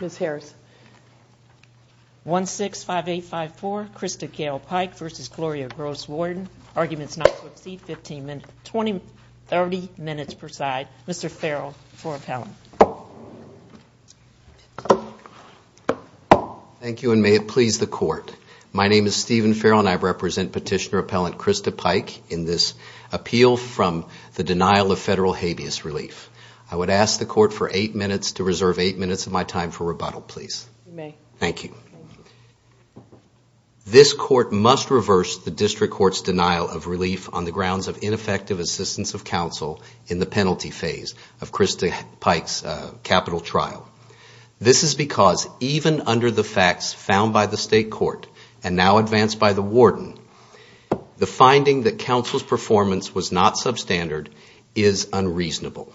Ms. Harris. 165854 Christa Gayle Pike v. Gloria Gross Warden. Arguments not to proceed, 15 minutes, 20, 30 minutes preside. Mr. Farrell for appellant. Thank you and may it please the court. My name is Stephen Farrell and I represent petitioner appellant Christa Pike in this appeal from the denial of federal habeas relief. I would ask the court for eight minutes to reserve eight minutes of my time for rebuttal please. You may. Thank you. This court must reverse the district court's denial of relief on the grounds of ineffective assistance of counsel in the penalty phase of Christa Pike's capital trial. This is because even under the facts found by the state court and now advanced by the warden, the finding that counsel's performance was not substandard is unreasonable.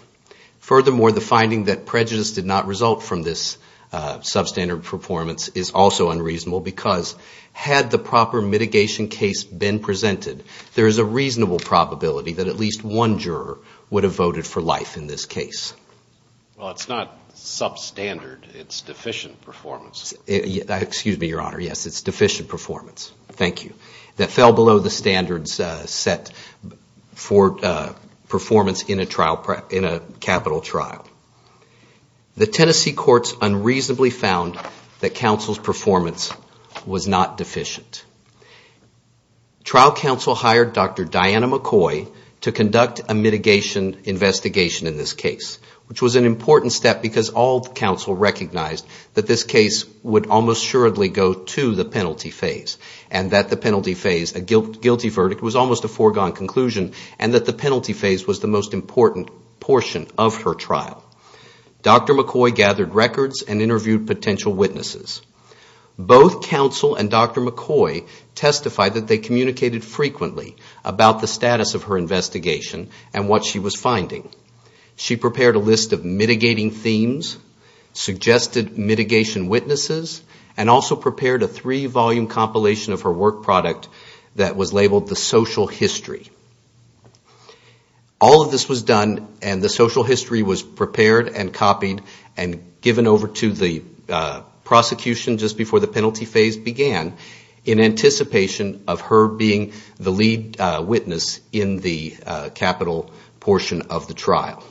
Furthermore, the finding that prejudice did not result from this substandard performance is also unreasonable because had the proper mitigation case been presented, there is a reasonable probability that at least one juror would have voted for life in this case. Well, it's not substandard, it's deficient performance. Excuse me, your honor. Yes, it's deficient performance. Thank you. That fell found that counsel's performance was not deficient. Trial counsel hired Dr. Diana McCoy to conduct a mitigation investigation in this case, which was an important step because all counsel recognized that this case would almost surely go to the penalty phase and that the penalty phase, a guilty verdict, was almost a foregone conclusion and that the penalty phase was the most important portion of her trial. Dr. McCoy gathered records and interviewed potential witnesses. Both counsel and Dr. McCoy testified that they communicated frequently about the status of her investigation and what she was finding. She prepared a list of mitigating themes, suggested mitigation witnesses, and also prepared a three-volume compilation of her work product that was labeled the social history. All of this was done and the social history was prepared and copied and given over to the prosecution just before the penalty phase began in anticipation of her being the lead witness in the capital portion of the trial.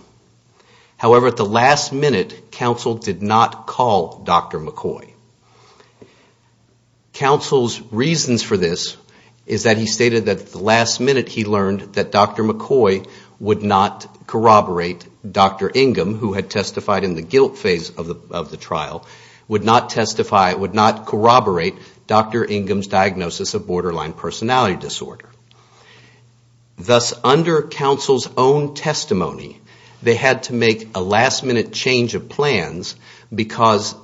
However, at the last minute, counsel did not call Dr. McCoy. Counsel's reasons for this is that he stated that at the last minute he learned that Dr. McCoy would not corroborate Dr. Ingham, who had testified in the guilt phase of the trial, would not corroborate Dr. Ingham's diagnosis of borderline personality disorder. Thus, under counsel's own testimony, they had to make a last minute change of plans because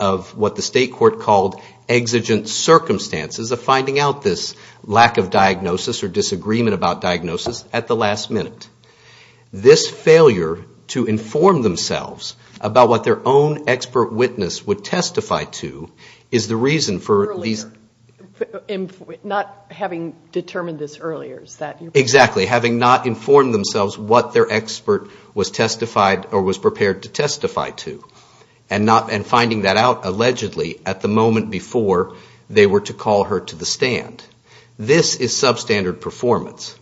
of what the state court called exigent circumstances of finding out this lack of diagnosis or disagreement about diagnosis at the last minute. This failure to inform themselves about what their own expert witness would testify to is the reason for these... Not having determined this earlier, is that your point? Exactly. Having not informed themselves what their expert was prepared to testify to. And finding that out allegedly at the moment before they were to call her to the stand. This is substandard performance.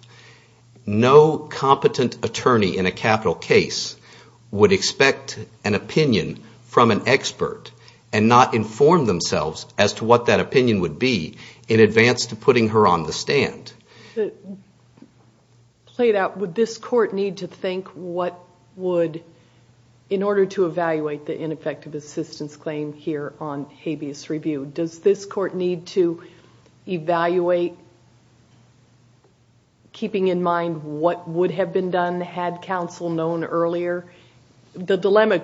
No competent attorney in a capital case would expect an opinion from an expert and not inform themselves as to what that opinion would be in advance to putting her on the stand. To play it out, would this court need to think what would... In order to evaluate the ineffective assistance claim here on habeas review, does this court need to evaluate keeping in mind what would have been done had counsel known earlier? The dilemma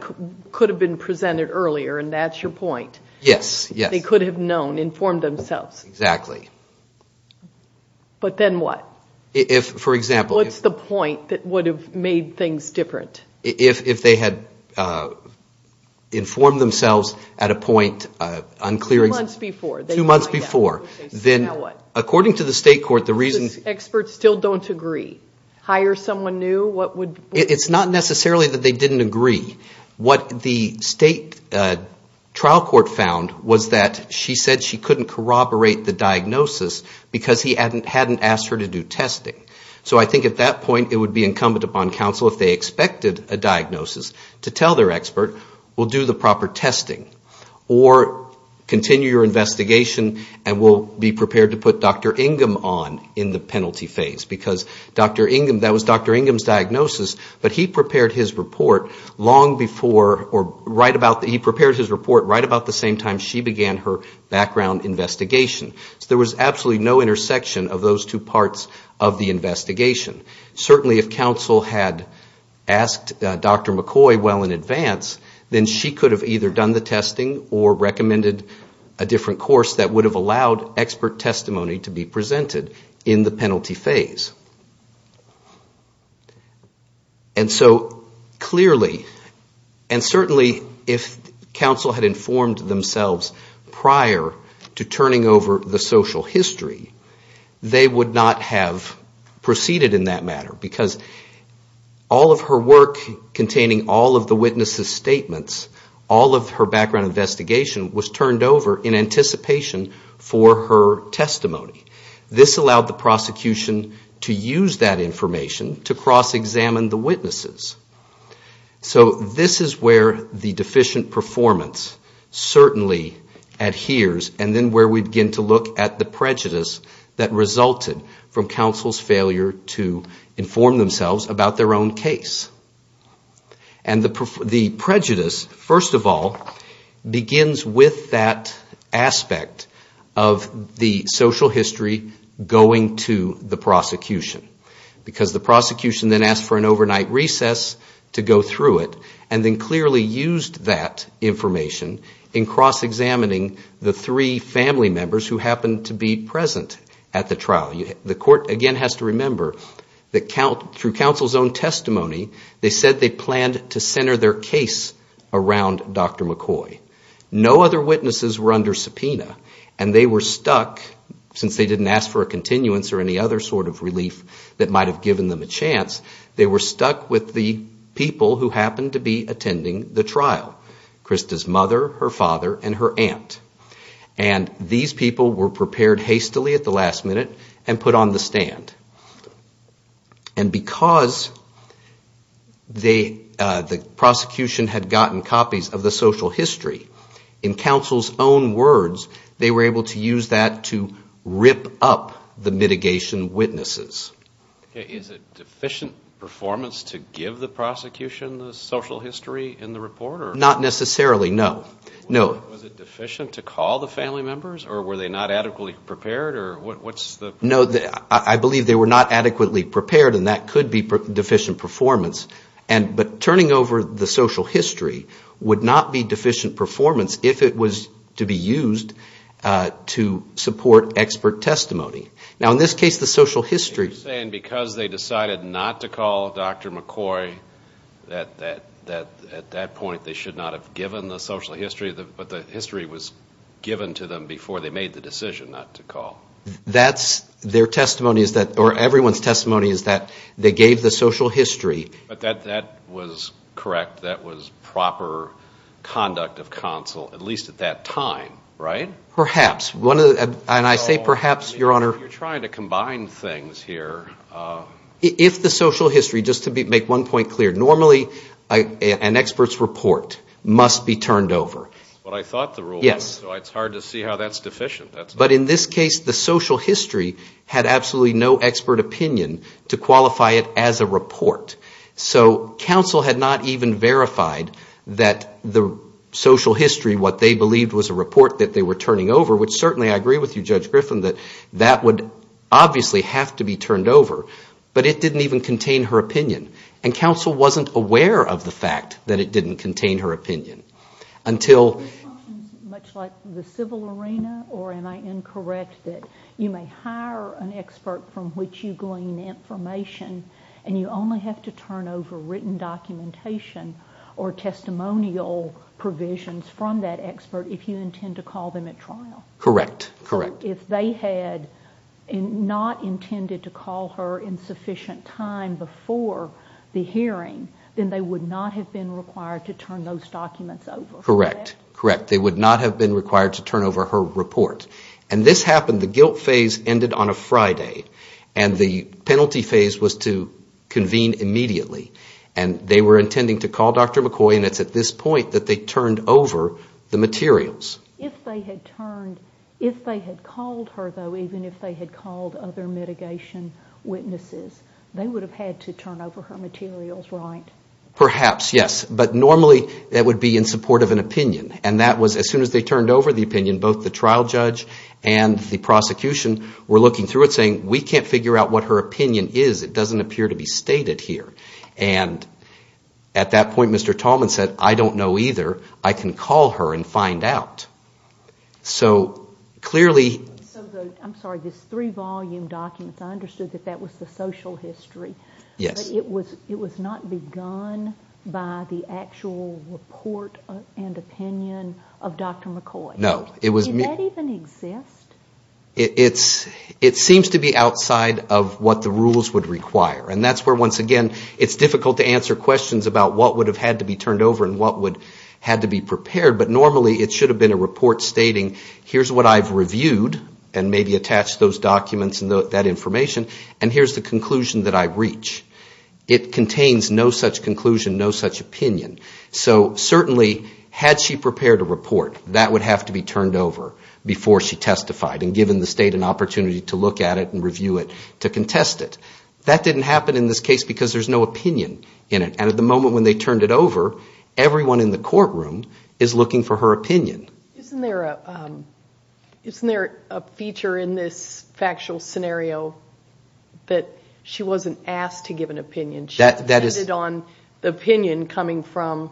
could have been presented earlier, and that's your point. Yes. They could have known, informed themselves. Yes, exactly. But then what? If, for example... What's the point that would have made things different? If they had informed themselves at a point unclear... Two months before. Two months before. Now what? According to the state court, the reason... Experts still don't agree. Hire someone new, what would... It's not necessarily that they didn't agree. What the state trial court found was that she said she couldn't corroborate the diagnosis because he hadn't asked her to do testing. So I think at that point, it would be incumbent upon counsel, if they expected a diagnosis, to tell their expert, we'll do the proper testing, or continue your investigation and we'll be prepared to put Dr. Ingham on in the penalty phase. Because that was Dr. Ingham's diagnosis, but he prepared his report right about the same time she began her background investigation. There was absolutely no intersection of those two parts of the investigation. Certainly if counsel had asked Dr. McCoy well in advance, then she could have either done the testing or recommended a different course that would have allowed expert testimony to be presented in the penalty phase. And so, clearly, and certainly if counsel had informed themselves prior to turning over the social history, they would not have proceeded in that matter. Because all of her work containing all of the witnesses' statements, all of her background investigation was turned over in anticipation for her testimony. This allowed the prosecution to use that information to cross-examine the witnesses. So this is where the deficient performance certainly adheres, and then where we begin to look at the prejudice that resulted from counsel's failure to inform themselves about their own case. And the prejudice, first of all, begins with that aspect of the social history going to the prosecution. Because the prosecution then asked for an overnight recess to go through it, and then clearly used that information in cross-examining the three family members who happened to be present at the trial. The court, again, has to remember that through counsel's own testimony, they said they planned to center their case around Dr. McCoy. No other witnesses were under subpoena, and they were stuck, since they didn't ask for a continuance or any other sort of relief that might have given them a chance, they were stuck with the people who happened to be attending the trial, Krista's mother, her father, and her aunt. And these people were prepared hastily at the last minute and put on the stand. And because the prosecution had gotten copies of the social history, in counsel's own words, they were able to use that to rip up the mitigation witnesses. Is it deficient performance to give the prosecution the social history in the report? Not necessarily, no. Was it deficient to call the family members, or were they not adequately prepared? No, I believe they were not adequately prepared, and that could be deficient performance, but turning over the social history would not be deficient performance if it was to be used to support expert testimony. Now, in this case, the social history... Are you saying because they decided not to call Dr. McCoy, that at that point they should not have given the social history, but the history was given to them before they made the decision not to call? That's their testimony, or everyone's testimony, is that they gave the social history. But that was correct. That was proper conduct of counsel, at least at that time, right? Perhaps. And I say perhaps, Your Honor. You're trying to combine things here. If the social history, just to make one point clear, normally an expert's report must be turned over. That's what I thought the rule was, so it's hard to see how that's deficient. But in this case, the social history had absolutely no expert opinion to qualify it as a report. So counsel had not even verified that the social history, what they believed was a report that they were turning over, which certainly I agree with you, Judge Griffin, that that would obviously have to be turned over, but it didn't even contain her opinion. And counsel wasn't aware of the fact that it didn't contain her opinion until... Much like the civil arena, or am I incorrect that you may hire an expert from which you glean information and you only have to turn over written documentation or testimonial provisions from that expert if you intend to call them at trial? Correct, correct. If they had not intended to call her in sufficient time before the hearing, then they would not have been required to turn those documents over. Correct, correct. They would not have been required to turn over her report. And this happened, the guilt phase ended on a Friday, and the penalty phase was to convene immediately. And they were intending to call Dr. McCoy, and it's at this point that they turned over the materials. If they had turned, if they had called her though, even if they had called other mitigation witnesses, they would have had to turn over her materials, right? Perhaps, yes. But normally that would be in support of an opinion. And that was, as soon as they turned over the opinion, both the trial judge and the prosecution were looking through it saying, we can't figure out what her opinion is. It doesn't appear to be stated here. And at that point, Mr. Tallman said, I don't know either. I can call her and find out. So clearly... I'm sorry, these three volume documents, I understood that that was the social history. Yes. But it was not begun by the actual report and opinion of Dr. McCoy. No. Did that even exist? It seems to be outside of what the rules would require. And that's where, once again, it's difficult to answer questions about what would have had to be turned over and what would have had to be prepared. But normally it should have been a report stating, here's what I've reviewed, and maybe attach those documents and that information, and here's the conclusion that I've reached. It contains no such conclusion, no such opinion. So certainly, had she prepared a report, that would have to be turned over before she testified and given the state an opportunity to look at it and review it to contest it. That didn't happen in this case because there's no opinion in it. And at the moment when they turned it over, everyone in the courtroom is looking for her opinion. Isn't there a feature in this factual scenario that she wasn't asked to give an opinion? She depended on the opinion coming from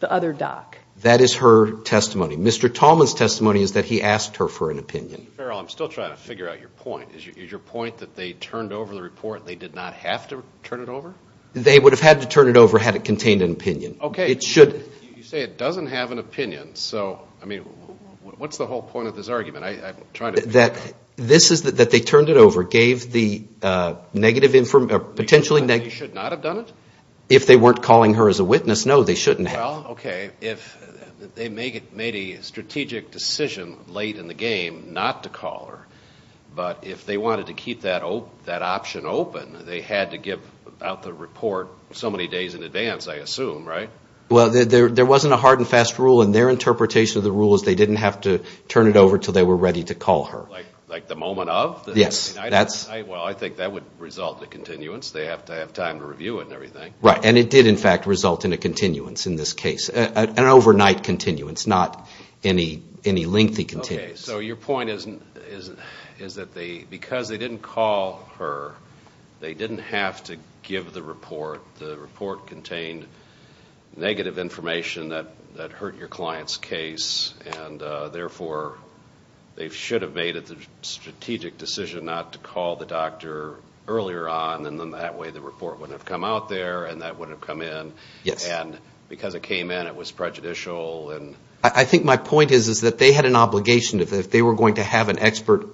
the other doc. That is her testimony. Mr. Tallman's testimony is that he asked her for an opinion. Mr. Farrell, I'm still trying to figure out your point. Is your point that they turned over the report and they did not have to turn it over? They would have had to turn it over had it contained an opinion. Okay. You say it doesn't have an opinion. So, I mean, what's the whole point of this argument? This is that they turned it over, gave the negative, potentially negative... You're saying they should not have done it? If they weren't calling her as a witness, no, they shouldn't have. Well, okay, if they made a strategic decision late in the game not to call her, but if they wanted to keep that option open, they had to give out the report so many days in advance, I assume, right? Well, there wasn't a hard and fast rule. And their interpretation of the rule is they didn't have to turn it over until they were ready to call her. Like the moment of? Yes. Well, I think that would result in a continuance. They have to have time to review it and everything. Right. And it did, in fact, result in a continuance in this case. An overnight continuance, not any lengthy continuance. Okay. So your point is that because they didn't call her, they didn't have to give the report. The report contained negative information that hurt your client's case, and therefore they should have made the strategic decision not to call the doctor earlier on, and then that way the report wouldn't have come out there and that wouldn't have come in. Yes. And because it came in, it was prejudicial. I think my point is that they had an obligation. If they were going to have an expert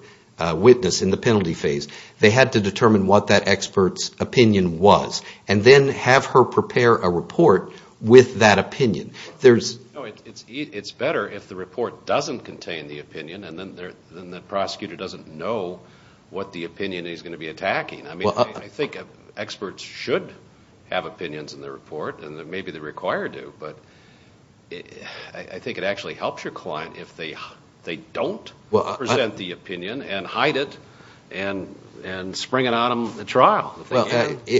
witness in the penalty phase, they had to determine what that expert's opinion was and then have her prepare a report with that opinion. It's better if the report doesn't contain the opinion, and then the prosecutor doesn't know what the opinion he's going to be attacking. I think experts should have opinions in their report, and maybe the required do, but I think it actually helps your client if they don't present the opinion and hide it and spring it on them at trial.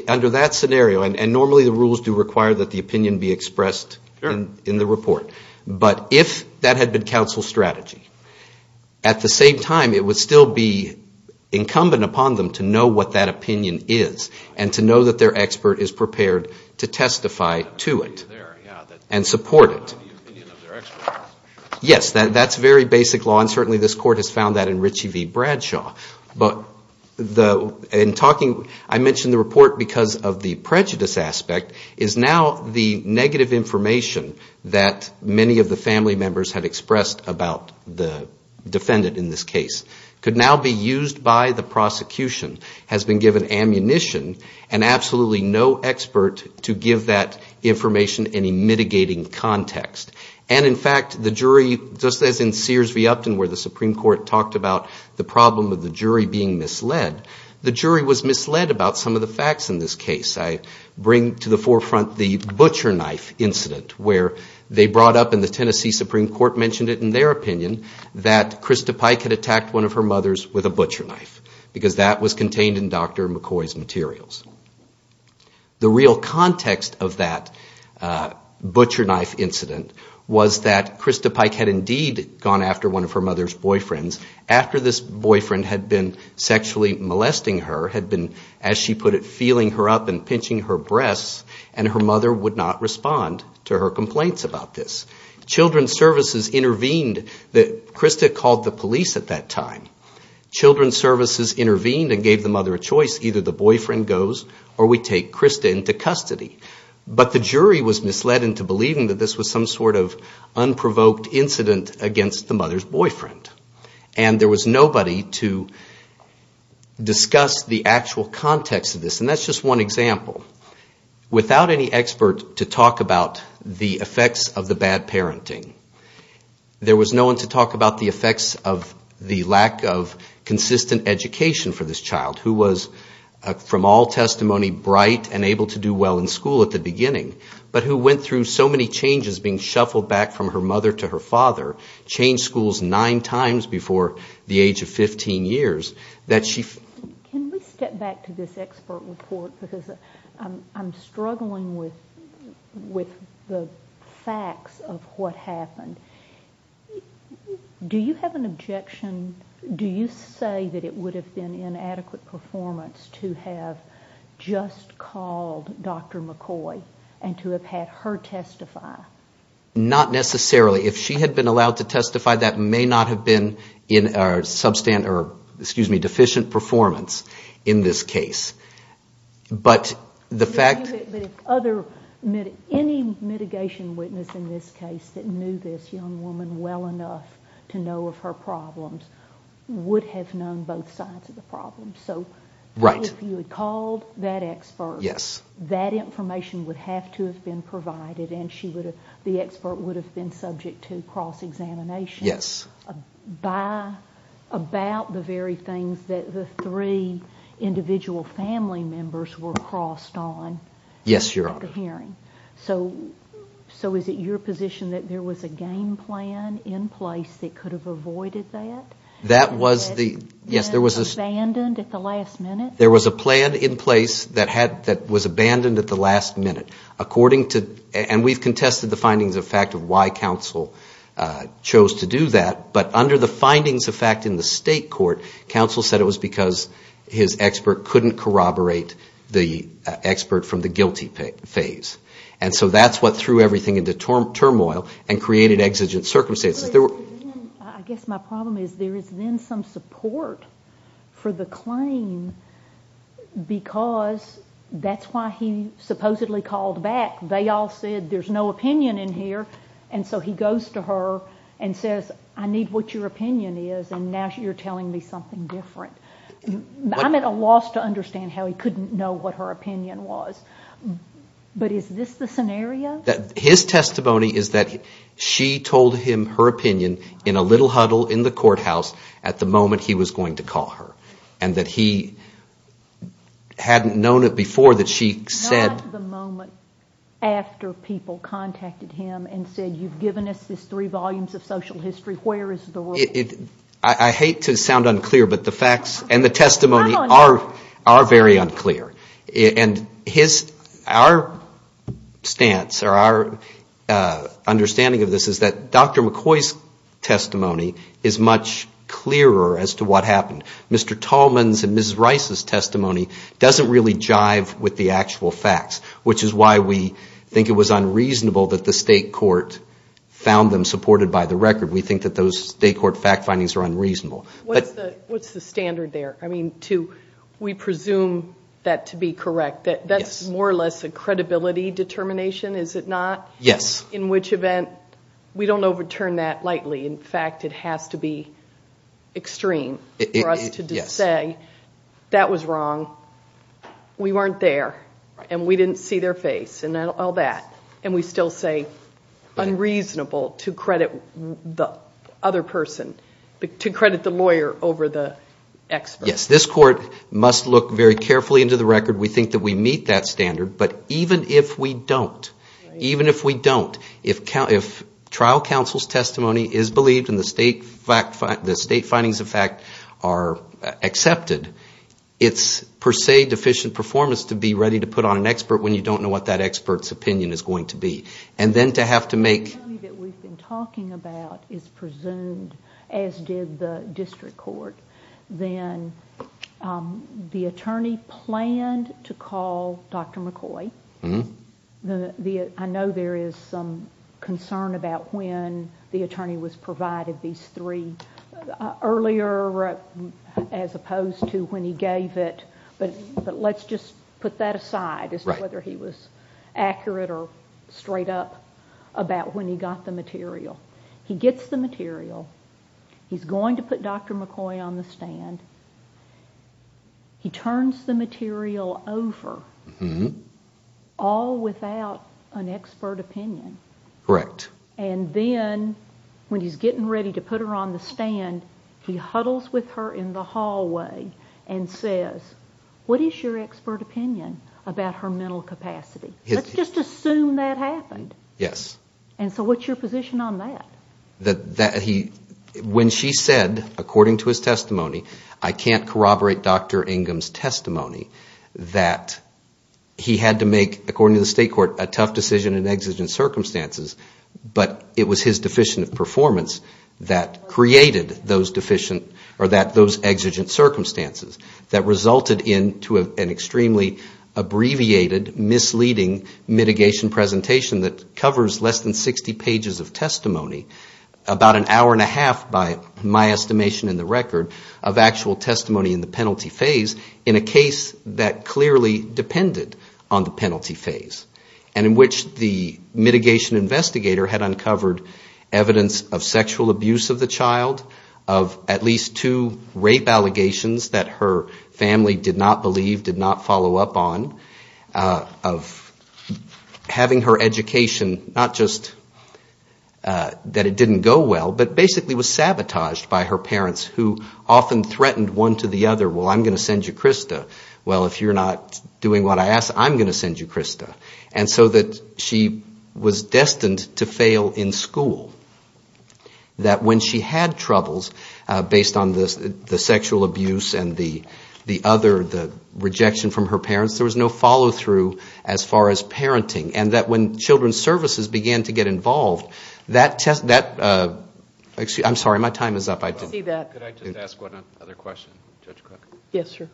Under that scenario, and normally the rules do require that the opinion be expressed in the report, but if that had been counsel's strategy, at the same time, it would still be incumbent upon them to know what that opinion is and to know that their expert is prepared to testify to it and support it. Yes, that's very basic law, and certainly this Court has found that in Ritchie v. Bradshaw. But in talking, I mentioned the report because of the prejudice aspect, is now the negative information that many of the family members had expressed about the defendant in this case could now be used by the prosecution, has been given ammunition, and absolutely no expert to give that information any mitigating context. And in fact, the jury, just as in Sears v. Upton where the Supreme Court talked about the problem of the jury being misled, the jury was misled about some of the facts in this case. I bring to the forefront the butcher knife incident where they brought up in the Tennessee Supreme Court, mentioned it in their opinion, that Krista Pike had attacked one of her mothers with a butcher knife because that was contained in Dr. McCoy's materials. The real context of that butcher knife incident was that Krista Pike had indeed gone after one of her mother's boyfriends after this boyfriend had been sexually molesting her, had been, as she put it, feeling her up and pinching her breasts, and her mother would not respond to her complaints about this. Children's Services intervened. Krista called the police at that time. Children's Services intervened and gave the mother a choice. Either the boyfriend goes or we take Krista into custody. But the jury was misled into believing that this was some sort of unprovoked incident against the mother's boyfriend. And there was nobody to discuss the actual context of this, and that's just one example. Without any expert to talk about the effects of the bad parenting, there was no one to talk about the effects of the lack of consistent education for this child, who was, from all testimony, bright and able to do well in school at the beginning, but who went through so many changes being shuffled back from her mother to her father, changed schools nine times before the age of 15 years, that she... Can we step back to this expert report, because I'm struggling with the facts of what happened. Do you have an objection, do you say that it would have been inadequate performance to have just called Dr. McCoy and to have had her testify? Not necessarily. If she had been allowed to testify, that may not have been deficient performance in this case. Any mitigation witness in this case that knew this young woman well enough to know of her problems would have known both sides of the problem. So if you had called that expert, that information would have to have been provided, and the expert would have been subject to cross-examination about the very things that the three individual family members were crossed on. Yes, Your Honor. So is it your position that there was a game plan in place that could have avoided that? Yes, there was a plan in place that was abandoned at the last minute. And we've contested the findings of fact of why counsel chose to do that, but under the findings of fact in the state court, counsel said it was because his expert couldn't corroborate the expert from the guilty phase. And so that's what threw everything into turmoil and created exigent circumstances. I guess my problem is there is then some support for the claim, because that's why he supposedly called back. They all said there's no opinion in here, and so he goes to her and says, I need what your opinion is, and now you're telling me something different. I'm at a loss to understand how he couldn't know what her opinion was. But is this the scenario? His testimony is that she told him her opinion in a little huddle in the courthouse at the moment he was going to call her. And that he hadn't known it before that she said... Not the moment after people contacted him and said you've given us these three volumes of social history, where is the rule? I hate to sound unclear, but the facts and the testimony are very unclear. And our stance or our understanding of this is that Dr. McCoy's testimony is much clearer as to what happened. Mr. Tallman's and Mrs. Rice's testimony doesn't really jive with the actual facts, which is why we think it was unreasonable that the state court found them supported by the record. We think that those state court fact findings are unreasonable. What's the standard there? We presume that to be correct. That's more or less a credibility determination, is it not? In which event, we don't overturn that lightly. In fact, it has to be extreme for us to say that was wrong, we weren't there, and we didn't see their face and all that. And we still say unreasonable to credit the other person, to credit the lawyer over the expert. Yes, this court must look very carefully into the record. We think that we meet that standard, but even if we don't, if trial counsel's testimony is believed and the state findings of fact are accepted, it's per se deficient performance to be ready to put on an expert when you don't know what that expert's opinion is going to be. And then to have to make... The attorney that we've been talking about is presumed, as did the district court, then the attorney planned to call Dr. McCoy. I know there is some concern about when the attorney was provided these three earlier, as opposed to when he gave it, but let's just put that aside as to whether he was accurate or straight up about when he got the material. He gets the material, he's going to put Dr. McCoy on the stand, he turns the material over, all without an expert opinion. And then when he's getting ready to put her on the stand, he huddles with her in the hallway and says, what is your expert opinion about her mental capacity? Let's just assume that happened. And so what's your position on that? When she said, according to his testimony, I can't corroborate Dr. Ingham's testimony, that he had to make, according to the state court, a tough decision in exigent circumstances, but it was his deficient performance that created those exigent circumstances that resulted into an extremely abbreviated misleading mitigation presentation that covers less than 60 pages of testimony, about an hour and a half, by my estimation in the record, of actual testimony in the penalty phase, in a case that clearly depended on the penalty phase, and in which the mitigation investigator had uncovered evidence of sexual abuse of the child, of at least two rape allegations that her family did not believe, did not follow up on, of having her education, not just that it didn't go well, but basically was sabotaged by her parents, who often threatened one to the other, well, I'm going to send you Krista. Well, if you're not doing what I ask, I'm going to send you Krista. And so that she was destined to fail in school. That when she had troubles, based on the sexual abuse and the other, the rejection from her parents, there was no follow-through as far as parenting. And that when children's services began to get involved, that test, excuse me, I'm sorry, my time is up.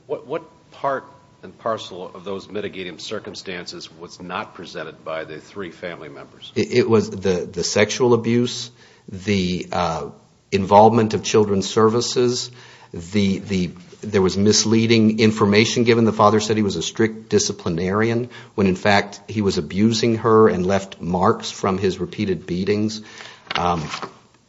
What part and parcel of those mitigating circumstances was not presented by the three family members? It was the sexual abuse, the involvement of children's services, there was misleading information, given the father said he was a strict disciplinarian, when in fact he was abusing her and left marks from his repeated beatings.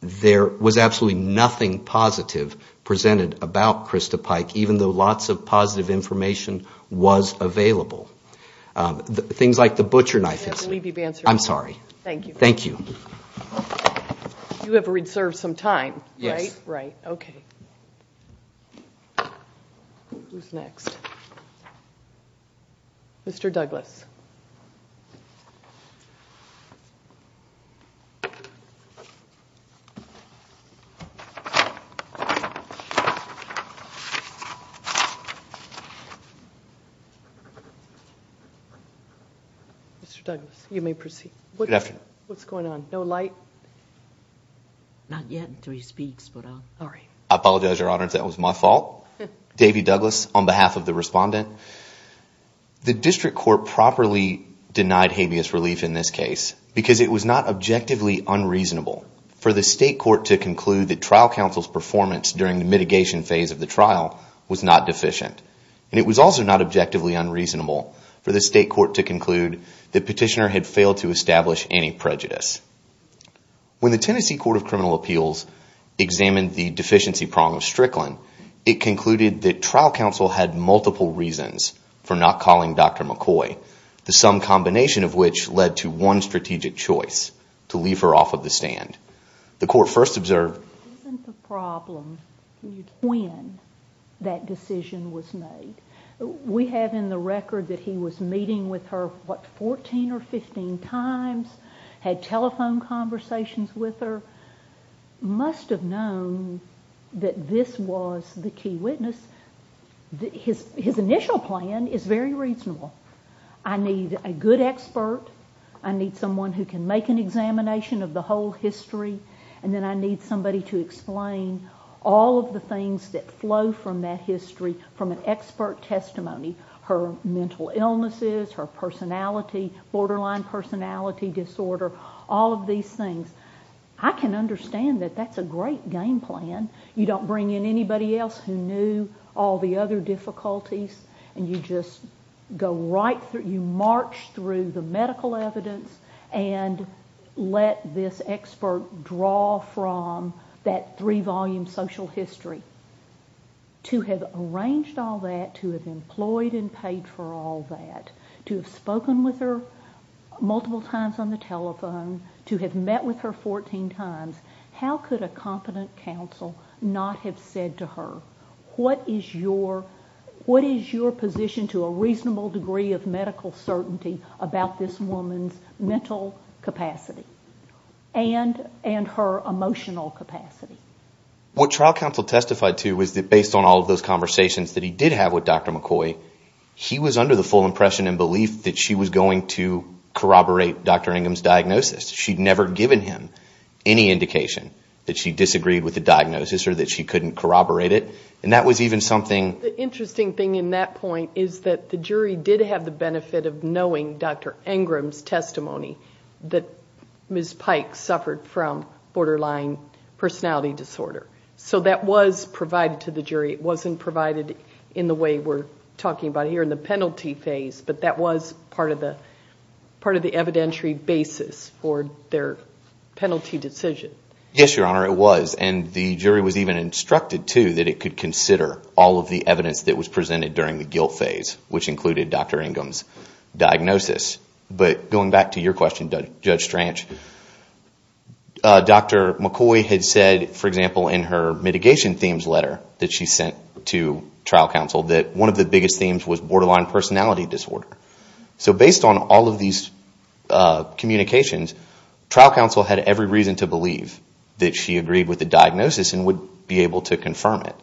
There was absolutely nothing positive presented about Krista Pike, even though lots of positive information was available. Things like the butcher knife incident. I'm sorry. Thank you. You have reserved some time, right? Who's next? Mr. Douglas. Mr. Douglas, you may proceed. What's going on? No light? Not yet until he speaks. I apologize, Your Honor, that was my fault. Davie Douglas, on behalf of the respondent. The district court properly denied habeas relief in this case, because it was not objectively unreasonable for the state court to conclude that trial counsel's performance during the mitigation phase of the trial was not deficient. And it was also not objectively unreasonable for the state court to conclude that Petitioner had failed to establish any prejudice. When the Tennessee Court of Criminal Appeals examined the deficiency prong of Strickland, it concluded that trial counsel had multiple reasons for not calling Dr. McCoy, the sum combination of which led to one strategic choice, to leave her off of the stand. Isn't the problem when that decision was made? We have in the record that he was meeting with her, what, 14 or 15 times? Had telephone conversations with her? Must have known that this was the key witness. His initial plan is very reasonable. I need a good expert. I need someone who can make an examination of the whole history. And then I need somebody to explain all of the things that flow from that history, from an expert testimony, her mental illnesses, her personality, borderline personality disorder, all of these things. I can understand that that's a great game plan. You don't bring in anybody else who knew all the other difficulties, and you just go right through, you march through the medical evidence and let this expert draw from that three-volume social history. To have arranged all that, to have employed and paid for all that, to have spoken with her multiple times on the telephone, to have met with her 14 times, how could a competent counsel not have said to her, what is your position to a reasonable degree of medical certainty about this woman's mental capacity and her emotional capacity? What trial counsel testified to was that based on all of those conversations that he did have with Dr. McCoy, he was under the full impression and belief that she was going to corroborate Dr. Ingram's diagnosis. She'd never given him any indication that she disagreed with the diagnosis or that she couldn't corroborate it. And that was even something... in the way we're talking about here in the penalty phase, but that was part of the evidentiary basis for their penalty decision. Yes, Your Honor, it was. And the jury was even instructed, too, that it could consider all of the evidence that was presented during the guilt phase, which included Dr. Ingram's diagnosis. But going back to your question, Judge Stranch, Dr. McCoy had said, for example, in her mitigation themes letter that she sent to trial counsel, that one of the biggest themes was borderline personality disorder. So based on all of these communications, trial counsel had every reason to believe that she agreed with the diagnosis and would be able to confirm it.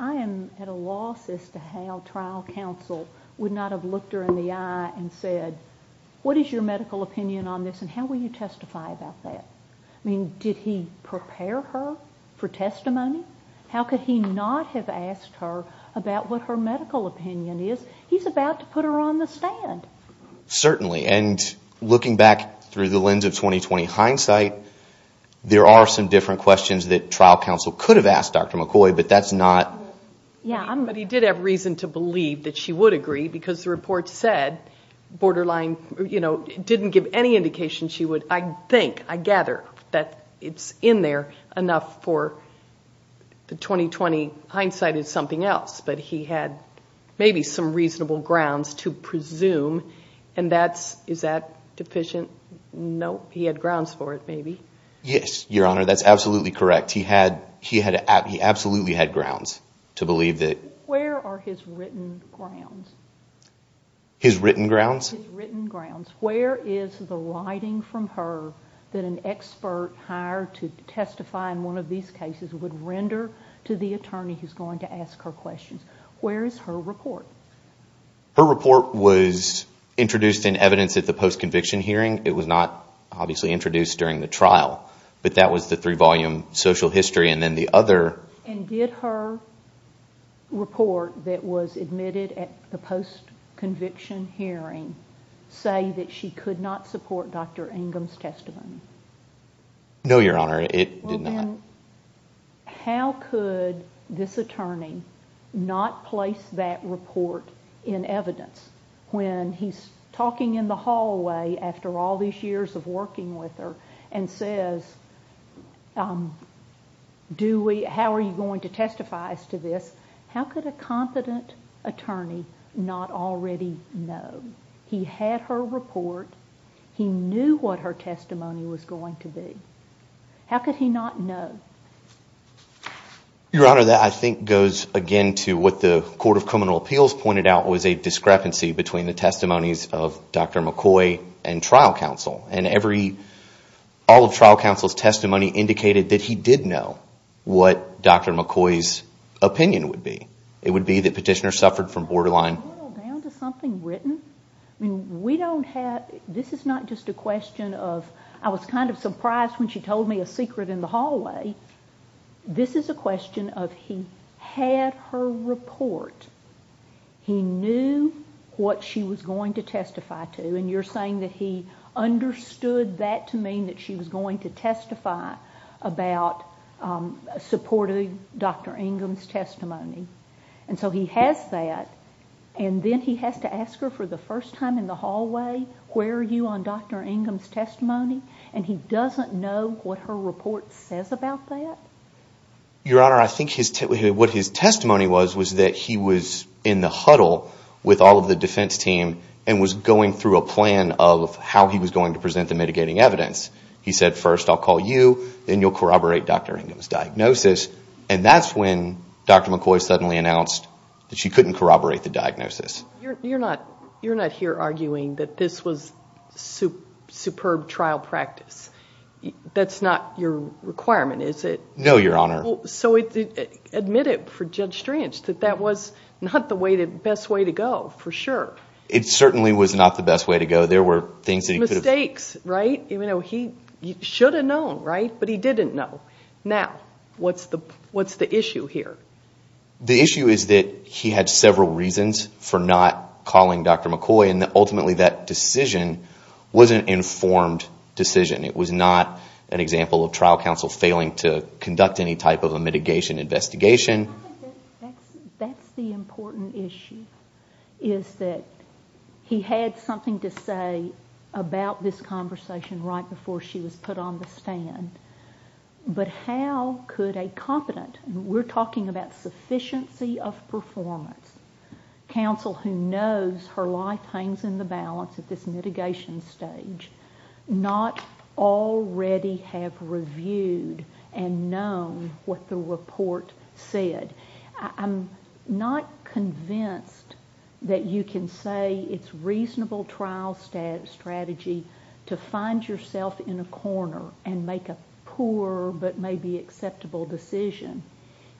I am at a loss as to how trial counsel would not have looked her in the eye and said, what is your medical opinion on this and how will you testify about that? I mean, did he prepare her for testimony? How could he not have asked her about what her medical opinion is? He's about to put her on the stand. Certainly. And looking back through the lens of 2020 hindsight, there are some different questions that trial counsel could have asked Dr. McCoy, but that's not... Yeah, but he did have reason to believe that she would agree, because the report said borderline, you know, it didn't give any indication she would, I think, I gather, that it's in there enough for the 2020 hindsight is something else. But he had maybe some reasonable grounds to presume, and that's... Is that deficient? No. He had grounds for it, maybe. Yes, Your Honor, that's absolutely correct. He absolutely had grounds to believe that... Where are his written grounds? Where is the writing from her that an expert hired to testify in one of these cases would render to the attorney who's going to ask her questions? Where is her report? Her report was introduced in evidence at the post-conviction hearing. It was not, obviously, introduced during the trial, but that was the three-volume social history. And then the other... And did her report that was admitted at the post-conviction hearing say that she could not support Dr. Ingham's testimony? No, Your Honor, it did not. How could this attorney not place that report in evidence when he's talking in the hallway after all these years of working with her and says, how are you going to testify as to this? How could a competent attorney not already know? He had her report. He knew what her testimony was going to be. How could he not know? Your Honor, that, I think, goes again to what the Court of Criminal Appeals pointed out was a discrepancy between the testimonies of Dr. McCoy and trial counsel. And all of trial counsel's testimony indicated that he did know what Dr. McCoy's opinion would be. It would be that Petitioner suffered from borderline... This is not just a question of, I was kind of surprised when she told me a secret in the hallway. This is a question of, he had her report. He knew what she was going to testify to. And you're saying that he understood that to mean that she was going to testify about supporting Dr. Ingham's testimony. And so he has that, and then he has to ask her for the first time in the hallway, where are you on Dr. Ingham's testimony, and he doesn't know what her report says about that? Your Honor, I think what his testimony was was that he was in the huddle with all of the defense team and was going through a plan of how he was going to present the mitigating evidence. He said, first I'll call you, then you'll corroborate Dr. Ingham's diagnosis. And that's when Dr. McCoy suddenly announced that she couldn't corroborate the diagnosis. You're not here arguing that this was superb trial practice. That's not your requirement, is it? No, Your Honor. So admit it for Judge Strange, that that was not the best way to go, for sure. It certainly was not the best way to go. Mistakes, right? He should have known, right? But he didn't know. Now, what's the issue here? The issue is that he had several reasons for not calling Dr. McCoy, and ultimately that decision was an informed decision. It was not an example of trial counsel failing to conduct any type of a mitigation investigation. That's the important issue, is that he had something to say about this conversation right before she was put on the stand. But how could a competent, we're talking about sufficiency of performance, counsel who knows her life hangs in the balance at this mitigation stage, not already have reviewed and known what the report said? I'm not convinced that you can say it's reasonable trial strategy to find yourself in a corner and make a poor but maybe acceptable decision.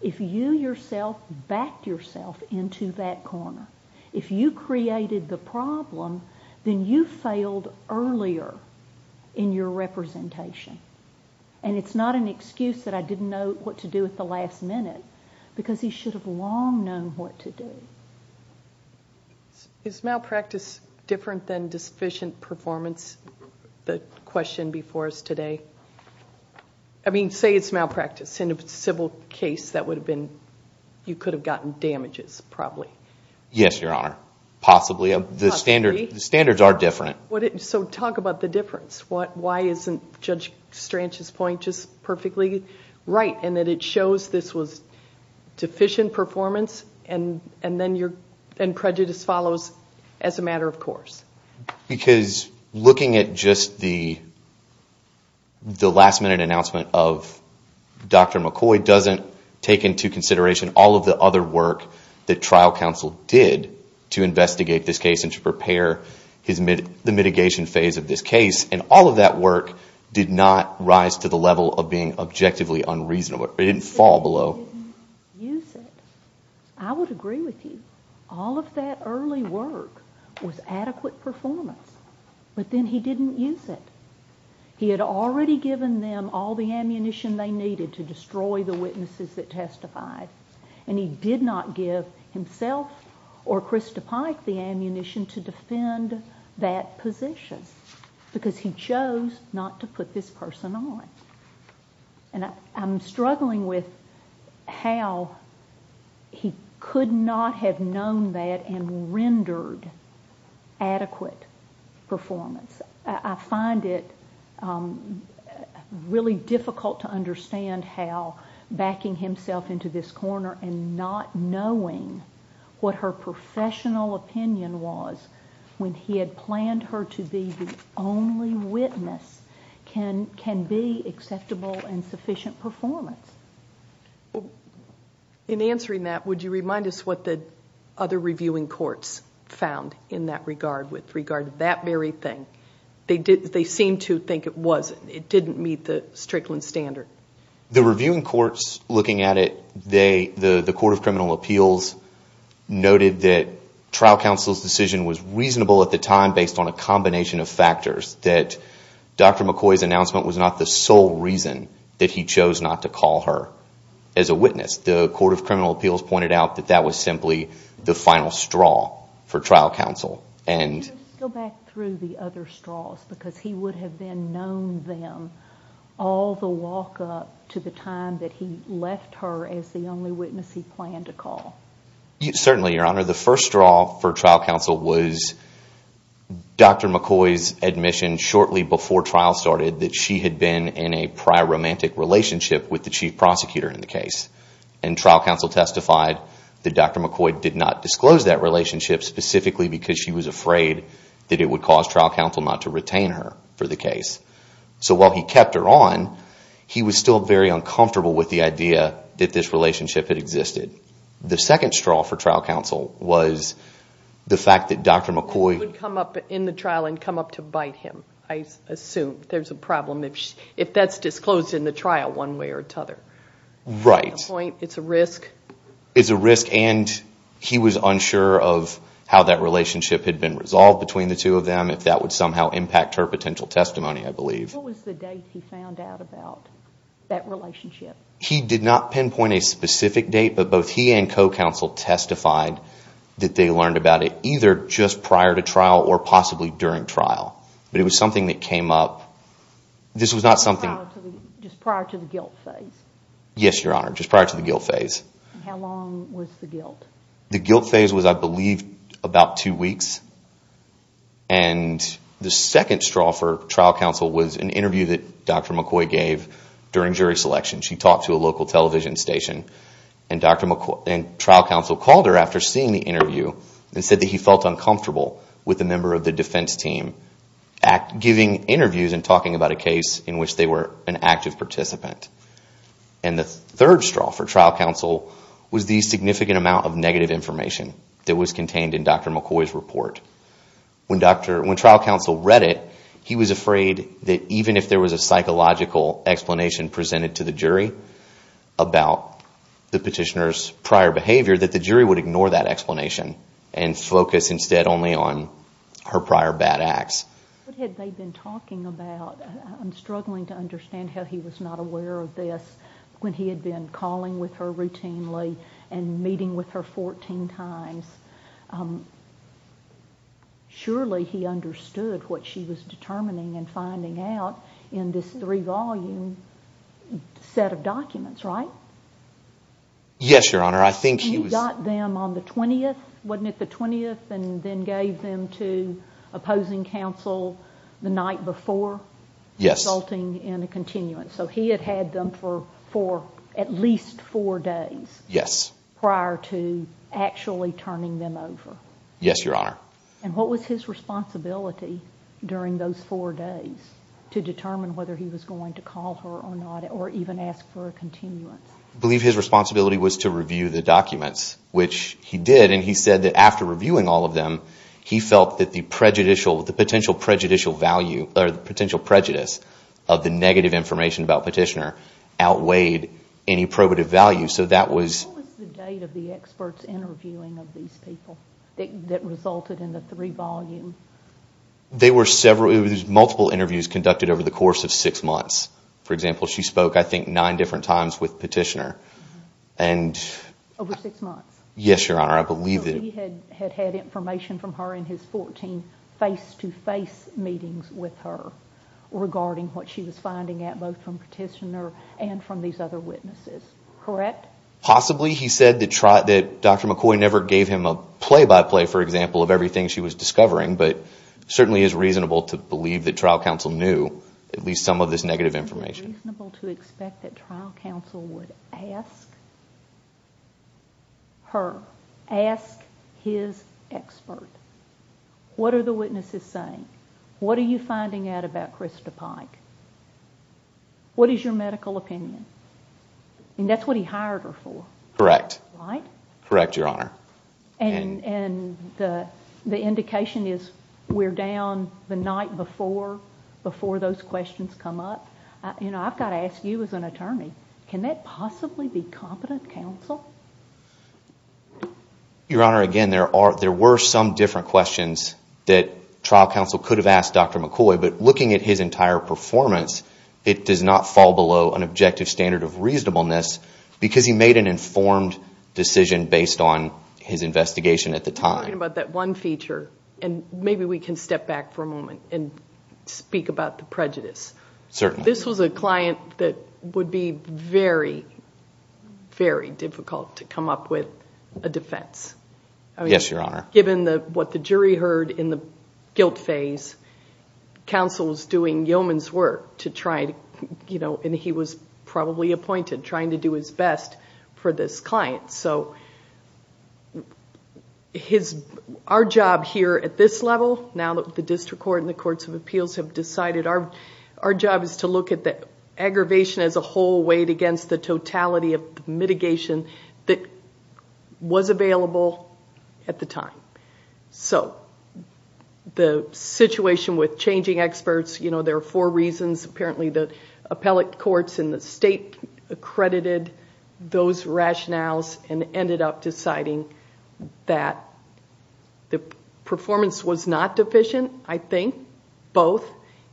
If you yourself backed yourself into that corner, if you created the problem, then you failed earlier in your representation. And it's not an excuse that I didn't know what to do at the last minute, because he should have long known what to do. Is malpractice different than deficient performance, the question before us today? I mean, say it's malpractice. In a civil case, you could have gotten damages, probably. Yes, Your Honor. Possibly. The standards are different. So talk about the difference. Why isn't Judge Stranch's point just perfectly right, in that it shows this was deficient performance and prejudice follows as a matter of course? Because looking at just the last minute announcement of Dr. McCoy doesn't take into consideration all of the other work that trial counsel did to investigate this case and to prepare the mitigation phase of this case. And all of that work did not rise to the level of being objectively unreasonable. It didn't fall below. I would agree with you. All of that early work was adequate performance. But then he didn't use it. He had already given them all the ammunition they needed to destroy the witnesses that testified, and he did not give himself or Krista Pike the ammunition to defend that position, because he chose not to put this person on. And I'm struggling with how he could not have known that and rendered adequate performance. I find it really difficult to understand how backing himself into this corner and not knowing what her professional opinion was when he had planned her to be the only witness can be acceptable and sufficient performance. In answering that, would you remind us what the other reviewing courts found in that regard with regard to that very thing? They seem to think it didn't meet the Strickland standard. The reviewing courts looking at it, the Court of Criminal Appeals noted that trial counsel's decision was reasonable at the time based on a combination of factors, that Dr. McCoy's announcement was not the sole reason that he chose not to call her as a witness. The Court of Criminal Appeals pointed out that that was simply the final straw for trial counsel. Go back through the other straws, because he would have then known them all the walk-up to the time that he left her as the only witness he planned to call. Certainly, Your Honor. The first straw for trial counsel was Dr. McCoy's admission shortly before trial started that she had been in a proromantic relationship with the chief prosecutor in the case. And trial counsel testified that Dr. McCoy did not disclose that relationship specifically because she was afraid that it would cause trial counsel not to retain her for the case. So while he kept her on, he was still very uncomfortable with the idea that this relationship had existed. The second straw for trial counsel was the fact that Dr. McCoy would come up in the trial and come up to bite him, I assume. If that's disclosed in the trial one way or another. It's a risk, and he was unsure of how that relationship had been resolved between the two of them, if that would somehow impact her potential testimony, I believe. What was the date he found out about that relationship? He did not pinpoint a specific date, but both he and co-counsel testified that they learned about it either just prior to trial or possibly during trial. But it was something that came up. Just prior to the guilt phase? Yes, Your Honor, just prior to the guilt phase. How long was the guilt? The guilt phase was, I believe, about two weeks. And the second straw for trial counsel was an interview that Dr. McCoy gave during jury selection. She talked to a local television station, and trial counsel called her after seeing the interview and said that he felt uncomfortable with a member of the defense team giving interviews and talking about a case in which they were an active participant. And the third straw for trial counsel was the significant amount of negative information that was contained in Dr. McCoy's report. When trial counsel read it, he was afraid that even if there was a psychological explanation presented to the jury about the petitioner's prior behavior, that the jury would ignore that explanation and focus instead only on her prior bad acts. What had they been talking about? I'm struggling to understand how he was not aware of this when he had been calling with her routinely and meeting with her 14 times. Surely he understood what she was determining and finding out in this three-volume set of documents, right? Yes, Your Honor. He got them on the 20th, wasn't it the 20th, and then gave them to opposing counsel the night before, resulting in a continuance. So he had had them for at least four days prior to actually turning them over. Yes, Your Honor. And what was his responsibility during those four days to determine whether he was going to call her or not, or even ask for a continuance? I believe his responsibility was to review the documents, which he did, and he said that after reviewing all of them, he felt that the prejudicial, the potential prejudicial value, or the potential prejudice of the negative information about Petitioner outweighed any probative value. So that was... What was the date of the experts interviewing of these people that resulted in the three-volume? They were several, it was multiple interviews conducted over the course of six months. For example, she spoke, I think, nine different times with Petitioner. Over six months? Yes, Your Honor, I believe that... So he had had information from her in his 14 face-to-face meetings with her regarding what she was finding out, both from Petitioner and from these other witnesses, correct? Possibly. He said that Dr. McCoy never gave him a play-by-play, for example, of everything she was discovering, but it certainly is reasonable to believe that trial counsel knew at least some of this negative information. Is it reasonable to expect that trial counsel would ask her, ask his expert, what are the witnesses saying? What are you finding out about Krista Pike? What is your medical opinion? And that's what he hired her for, right? Correct, Your Honor. And the indication is we're down the night before those questions come up. I've got to ask you as an attorney, can that possibly be competent counsel? Your Honor, again, there were some different questions that trial counsel could have asked Dr. McCoy, but looking at his entire performance, it does not fall below an objective standard of reasonableness because he made an informed decision based on his investigation at the time. Talking about that one feature, and maybe we can step back for a moment and speak about the prejudice. Certainly. This was a client that would be very, very difficult to come up with a defense. Yes, Your Honor. Given what the jury heard in the guilt phase, counsel was doing yeoman's work to try to, and he was probably appointed, trying to do his best for this client. So our job here at this level, now that the district court and the courts of appeals have decided, our job is to look at the aggravation as a whole weighed against the totality of mitigation that was available at the time. So the situation with changing experts, there are four reasons. Apparently the appellate courts and the state accredited those rationales and ended up deciding that the performance was not deficient, I think, both,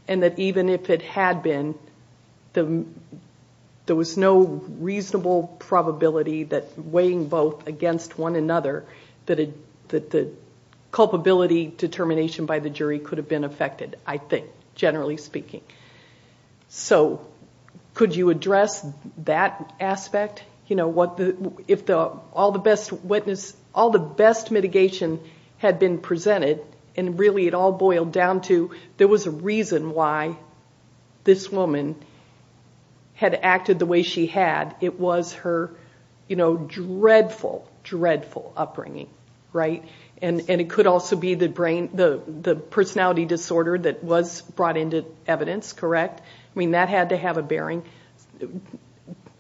and that even if it had been, there was no reasonable probability that weighing both against one another that the culpability determination by the jury could have been affected, I think, generally speaking. So could you address that aspect? If all the best mitigation had been presented, and really it all boiled down to there was a reason why this woman had acted the way she had, it was her dreadful, dreadful upbringing, right? And it could also be the personality disorder that was brought into evidence, correct? I mean, that had to have a bearing.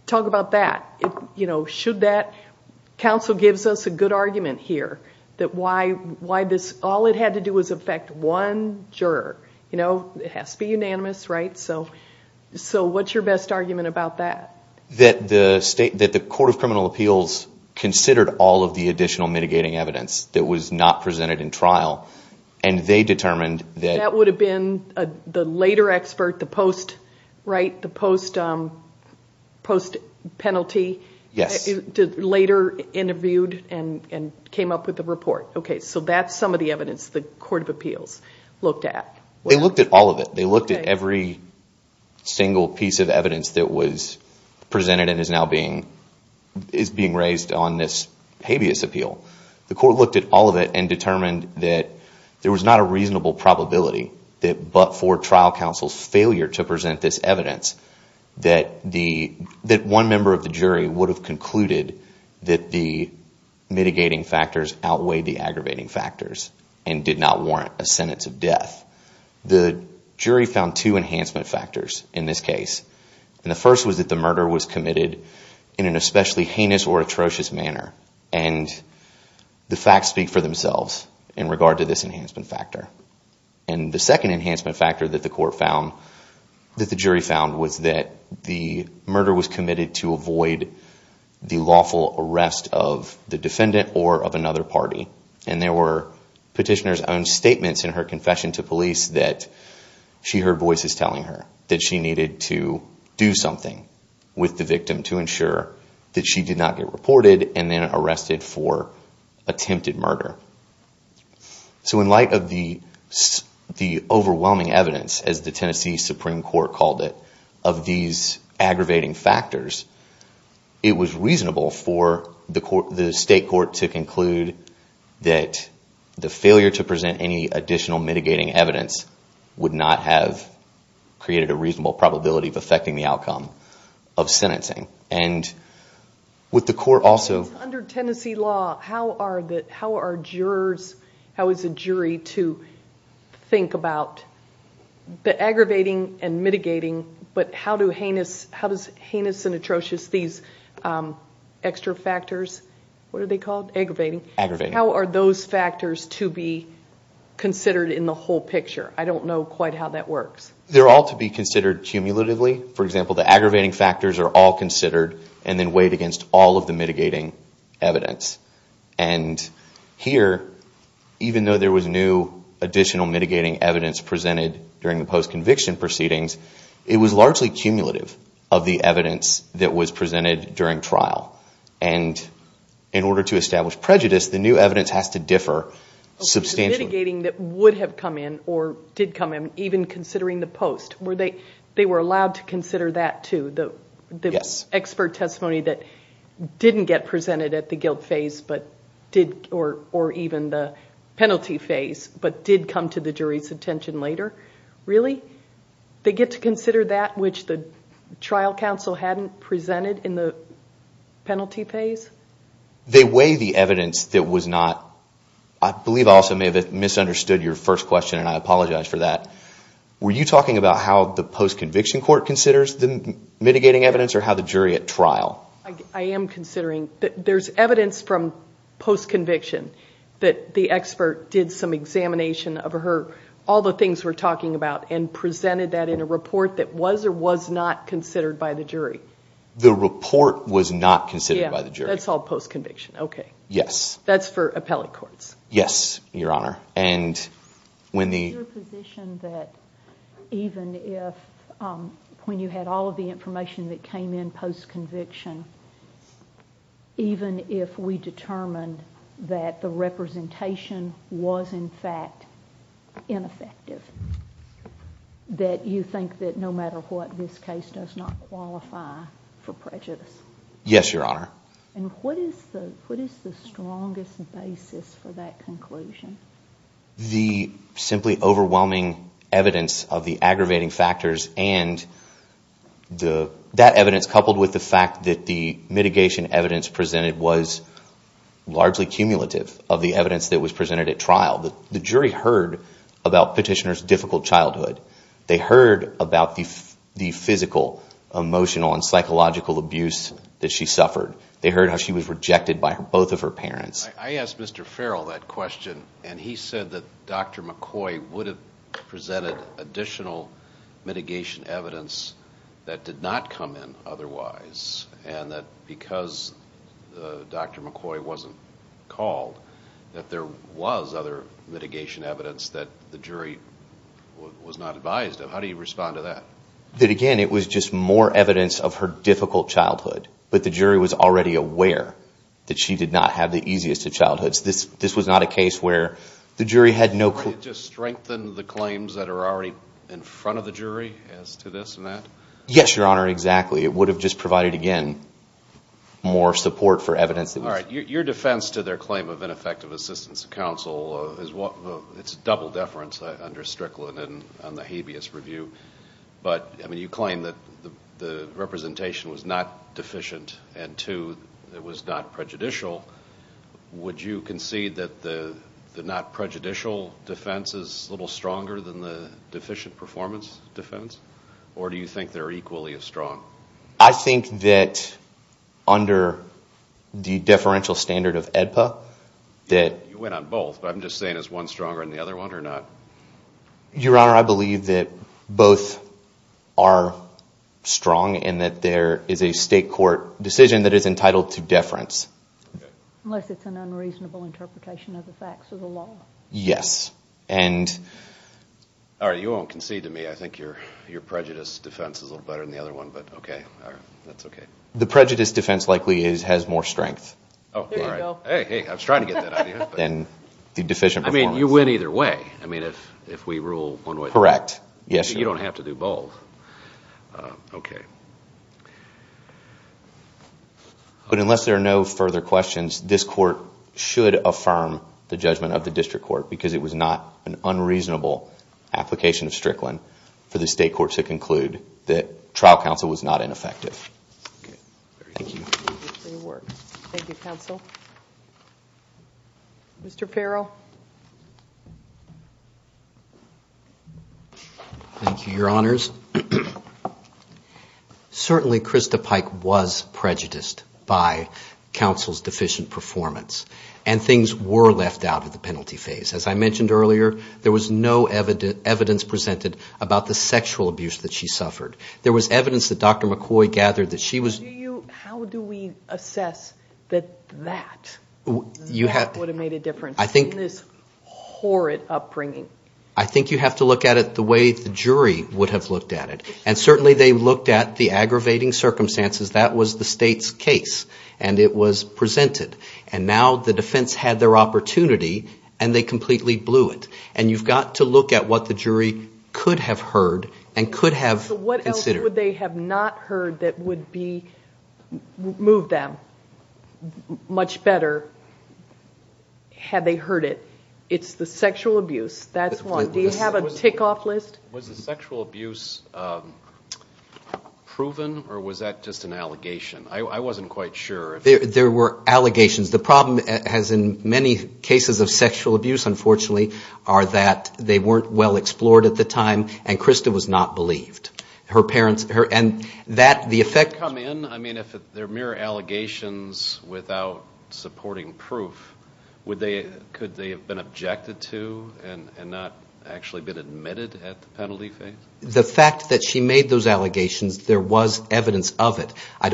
Talk about that. Council gives us a good argument here that all it had to do was affect one juror. It has to be unanimous, right? So what's your best argument about that? That the Court of Criminal Appeals considered all of the additional mitigating evidence that was not presented in trial, and they determined that... That would have been the later expert, the post, right? The post-penalty, later interviewed and came up with the report. Okay, so that's some of the evidence the Court of Appeals looked at. They looked at all of it. They looked at every single piece of evidence that was presented and is now being raised on this habeas appeal. The Court looked at all of it and determined that there was not a reasonable probability that but for trial counsel's failure to present this evidence, that one member of the jury would have concluded that the mitigating factors outweighed the aggravating factors and did not warrant a sentence of death. The jury found two enhancement factors in this case. The first was that the murder was committed in an especially heinous or atrocious manner. The facts speak for themselves in regard to this enhancement factor. The second enhancement factor that the jury found was that the murder was committed to avoid the lawful arrest of the defendant or of another party. And there were petitioner's own statements in her confession to police that she heard voices telling her that she needed to do something with the victim to ensure that she did not get reported and then arrested for attempted murder. So in light of the overwhelming evidence, as the Tennessee Supreme Court called it, of these aggravating factors, it was reasonable for the state court to conclude that the failure to present any additional mitigating evidence would not have created a reasonable probability of affecting the outcome of sentencing. Under Tennessee law, how are jurors, how is a jury to think about the aggravating and mitigating, how do heinous and atrocious, these extra factors, what are they called, aggravating, how are those factors to be considered in the whole picture? I don't know quite how that works. They're all to be considered cumulatively. For example, the aggravating factors are all considered and then weighed against all of the mitigating evidence. And here, even though there was new additional mitigating evidence presented during the post-conviction proceedings, it was largely cumulative of the evidence that was presented during trial. And in order to establish prejudice, the new evidence has to differ substantially. Mitigating that would have come in or did come in, even considering the post, they were allowed to consider that too? The expert testimony that didn't get presented at the guilt phase or even the penalty phase, but did come to the jury's attention later, really? They get to consider that which the trial counsel hadn't presented in the penalty phase? They weigh the evidence that was not, I believe I also may have misunderstood your first question and I apologize for that, were you talking about how the post-conviction court considers the mitigating evidence or how the jury at trial? I am considering that there's evidence from post-conviction that the expert did some examination of her, all the things we're talking about, and presented that in a report that was or was not considered by the jury. The report was not considered by the jury? That's all post-conviction, okay. That's for appellate courts. Is your position that even if, when you had all of the information that came in post-conviction, even if we determined that the representation was in fact ineffective, that you think that no matter what, this case does not qualify for prejudice? Yes, Your Honor. And what is the strongest basis for that conclusion? The simply overwhelming evidence of the aggravating factors and that evidence coupled with the fact that the mitigation evidence presented was largely cumulative of the evidence that was presented at trial. The jury heard about Petitioner's difficult childhood. They heard about the physical, emotional, and psychological abuse that she suffered. They heard how she was rejected by both of her parents. I asked Mr. Farrell that question, and he said that Dr. McCoy would have presented additional mitigation evidence that did not come in otherwise, and that because Dr. McCoy wasn't called, that there was other mitigation evidence that the jury was not advised of. How do you respond to that? That again, it was just more evidence of her difficult childhood, but the jury was already aware that she did not have the easiest of childhoods. This was not a case where the jury had no... Would it just strengthen the claims that are already in front of the jury as to this and that? Yes, Your Honor, exactly. It would have just provided, again, more support for evidence that was... All right. Your defense to their claim of ineffective assistance to counsel, it's a double deference under Strickland on the habeas review, but you claim that the representation was not deficient, and two, it was not prejudicial. Would you concede that the not prejudicial defense is a little stronger than the deficient performance defense, or do you think they're equally as strong? I think that under the deferential standard of AEDPA that... You went on both, but I'm just saying is one stronger than the other one or not? Your Honor, I believe that both are strong and that there is a state court decision that is entitled to deference. Unless it's an unreasonable interpretation of the facts of the law. Yes. All right. You won't concede to me. I think your prejudice defense is a little better than the other one, but okay. All right. That's okay. The prejudice defense likely has more strength than the deficient performance. I mean, you win either way if we rule one way or the other. I'm not going to concede to the state court because it was not an unreasonable application of Strickland for the state court to conclude that trial counsel was not ineffective. Thank you. Mr. Peril. Thank you, Your Honors. Certainly Krista Pike was prejudiced by counsel's deficient performance, and things were left out of the penalty phase. As I mentioned earlier, there was no evidence presented about the sexual abuse that she suffered. There was evidence that Dr. McCoy gathered that she was... How do we assess that that would have made a difference in this horrid upbringing? I think you have to look at it the way the jury would have looked at it. And certainly they looked at the aggravating circumstances. That was the state's case, and it was presented. And now the defense had their opportunity, and they completely blew it. And you've got to look at what the jury could have heard and could have considered. What would they have not heard that would move them much better had they heard it? It's the sexual abuse. That's one. Was the sexual abuse proven, or was that just an allegation? I wasn't quite sure. There were allegations. The problem, as in many cases of sexual abuse, unfortunately, are that they weren't well explored at the time, and Krista was not believed. I mean, if they're mere allegations without supporting proof, could they have been objected to and not actually been admitted at the penalty phase? The fact that she made those allegations, there was evidence of it. It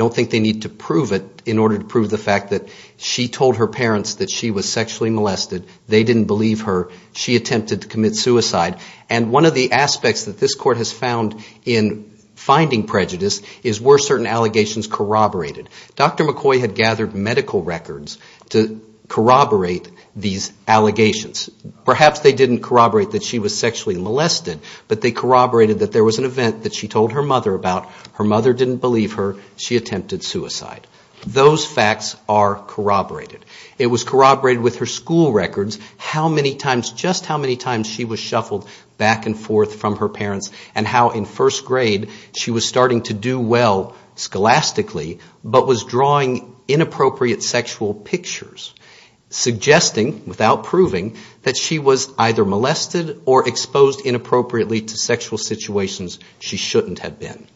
would prove the fact that she told her parents that she was sexually molested. They didn't believe her. She attempted to commit suicide. And one of the aspects that this Court has found in finding prejudice is were certain allegations corroborated. Dr. McCoy had gathered medical records to corroborate these allegations. Perhaps they didn't corroborate that she was sexually molested, but they corroborated that there was an event that she told her mother about. Her mother didn't believe her. She attempted suicide. Those facts are corroborated. It was corroborated with her school records how many times, just how many times she was shuffled back and forth from her parents, and how in first grade she was starting to do well scholastically, but was drawing inappropriate sexual pictures, suggesting, without proving, that she was either molested or exposed inappropriately to sexual situations she shouldn't have been.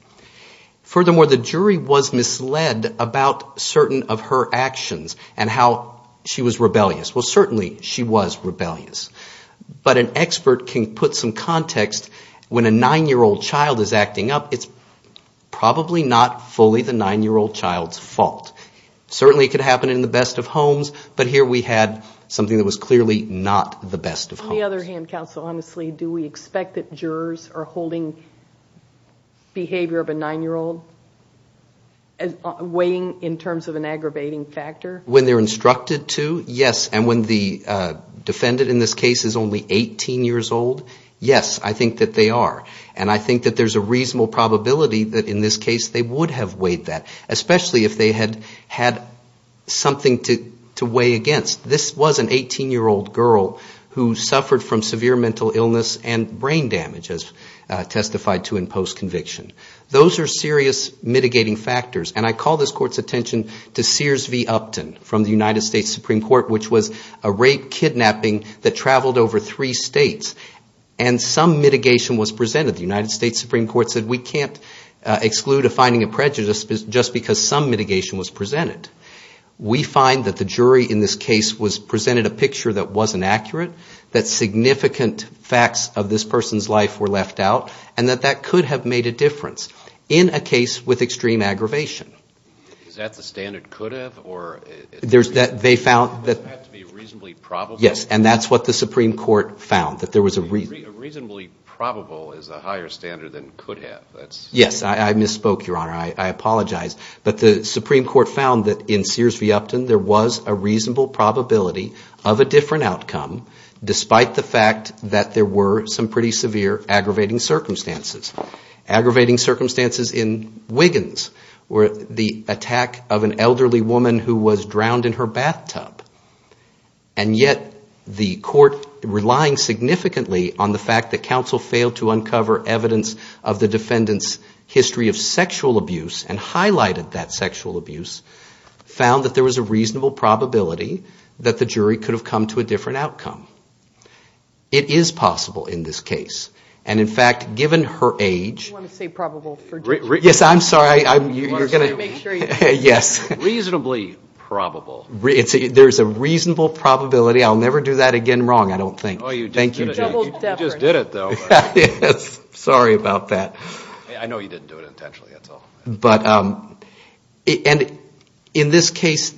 Furthermore, the jury was misled about certain of her actions and how she was rebellious. Well, certainly she was rebellious. But an expert can put some context when a nine-year-old child is acting up. It's probably not fully the nine-year-old child's fault. Certainly it could happen in the best of homes, but here we had something that was clearly not the best of homes. On the other hand, counsel, honestly, do we expect that jurors are holding behavior of a nine-year-old weighing in terms of an aggravating factor? When they're instructed to, yes, and when the defendant in this case is only 18 years old, yes, I think that they are. And I think that there's a reasonable probability that in this case they would have weighed that, especially if they had had something to weigh against. This was an 18-year-old girl who suffered from severe mental illness and brain damage, as testified to in post-conviction. Those are serious mitigating factors, and I call this Court's attention to Sears v. Upton from the United States Supreme Court, which was a rape-kidnapping that traveled over three states, and some mitigation was presented. The United States Supreme Court said we can't exclude a finding of prejudice just because some mitigation was presented. We find that the jury in this case presented a picture that wasn't accurate, that significant facts of this person's life were left out, and that that could have made a difference in a case with extreme aggravation. Is that the standard could have? Yes, and that's what the Supreme Court found, that there was a reason. A reasonably probable is a higher standard than could have. Yes, I misspoke, Your Honor. I apologize, but the Supreme Court found that in Sears v. Upton there was a reasonable probability of a different outcome, despite the fact that there were some pretty severe aggravating circumstances. Aggravating circumstances in Wiggins were the attack of an elderly woman who was drowned in her bathtub, and yet the court, relying significantly on the fact that counsel failed to uncover evidence of the defendant's history of sexual abuse and highlighted that sexual abuse, found that there was a reasonable probability that the jury could have come to a different outcome. It is possible in this case, and in fact, given her age... There's a reasonable probability. I'll never do that again wrong, I don't think. You just did it, though. Sorry about that. In this case,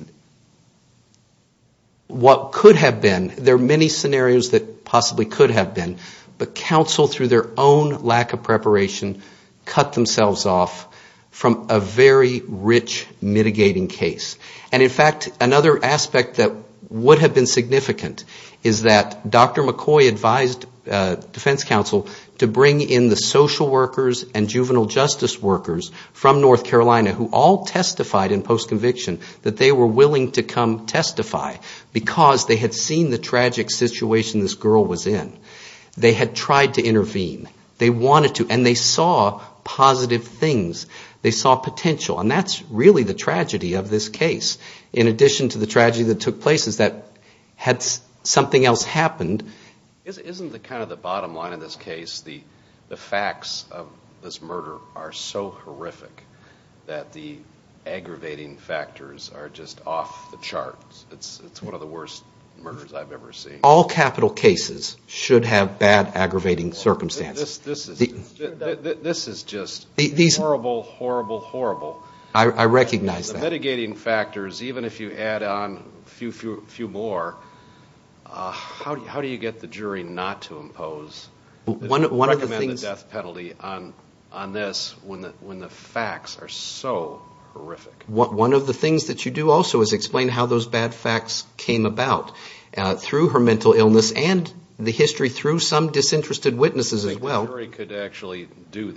what could have been, there are many scenarios that possibly could have been, but counsel, through their own lack of preparation, cut themselves off from a very rich mitigating case. And in fact, another aspect that would have been significant is that Dr. McCoy advised defense counsel to bring in the social workers and juvenile justice workers from North Carolina, who all testified in post-conviction that they were willing to come testify, because they had seen the tragic situation this girl was in. They had tried to intervene. They wanted to, and they saw positive things. They saw potential. And that's really the tragedy of this case. In addition to the tragedy that took place is that had something else happened... Isn't the bottom line of this case the facts of this murder are so horrific that the aggravating factors are just off the charts? It's one of the worst murders I've ever seen. All capital cases should have bad aggravating circumstances. This is just horrible, horrible, horrible. I recognize that. The mitigating factors, even if you add on a few more, how do you get the jury not to impose, recommend the death penalty on this when the facts are so horrific? One of the things that you do also is explain how those bad facts came about through her mental illness and the history through some disinterested witnesses as well. I think the jury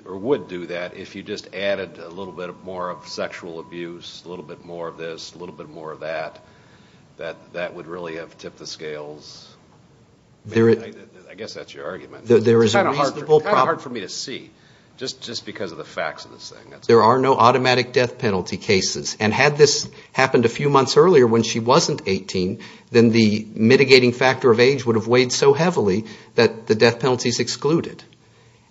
would do that if you just added a little bit more of sexual abuse, a little bit more of this, a little bit more of that. That would really have tipped the scales. I guess that's your argument. It's kind of hard for me to see, just because of the facts of this thing. There are no automatic death penalty cases. And had this happened a few months earlier when she wasn't 18, then the mitigating factor of age would have weighed so heavily that the death penalty is excluded.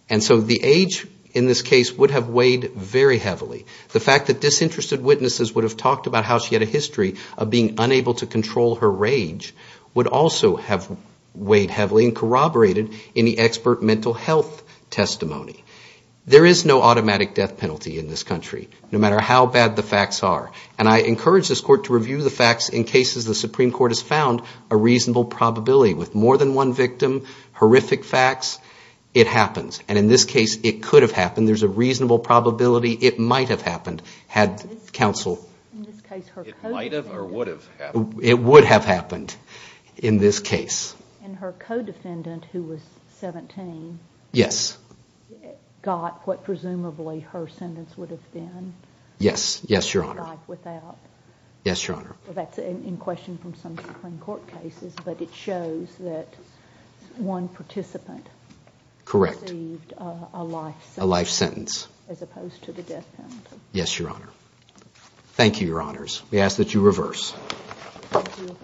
And so the age in this case would have weighed very heavily. The fact that disinterested witnesses would have talked about how she had a history of being unable to control her rage would also have weighed heavily and corroborated in the expert mental health testimony. There is no automatic death penalty in this country, no matter how bad the facts are. And I encourage this Court to review the facts in cases the Supreme Court has found a reasonable probability. With more than one victim, horrific facts, it happens. And in this case, it could have happened. There's a reasonable probability it might have happened. Had counsel... It would have happened in this case. Yes. Yes, Your Honor. Yes, Your Honor. Correct. Yes, Your Honor. Thank you, Your Honors. We ask that you reverse. Thank you.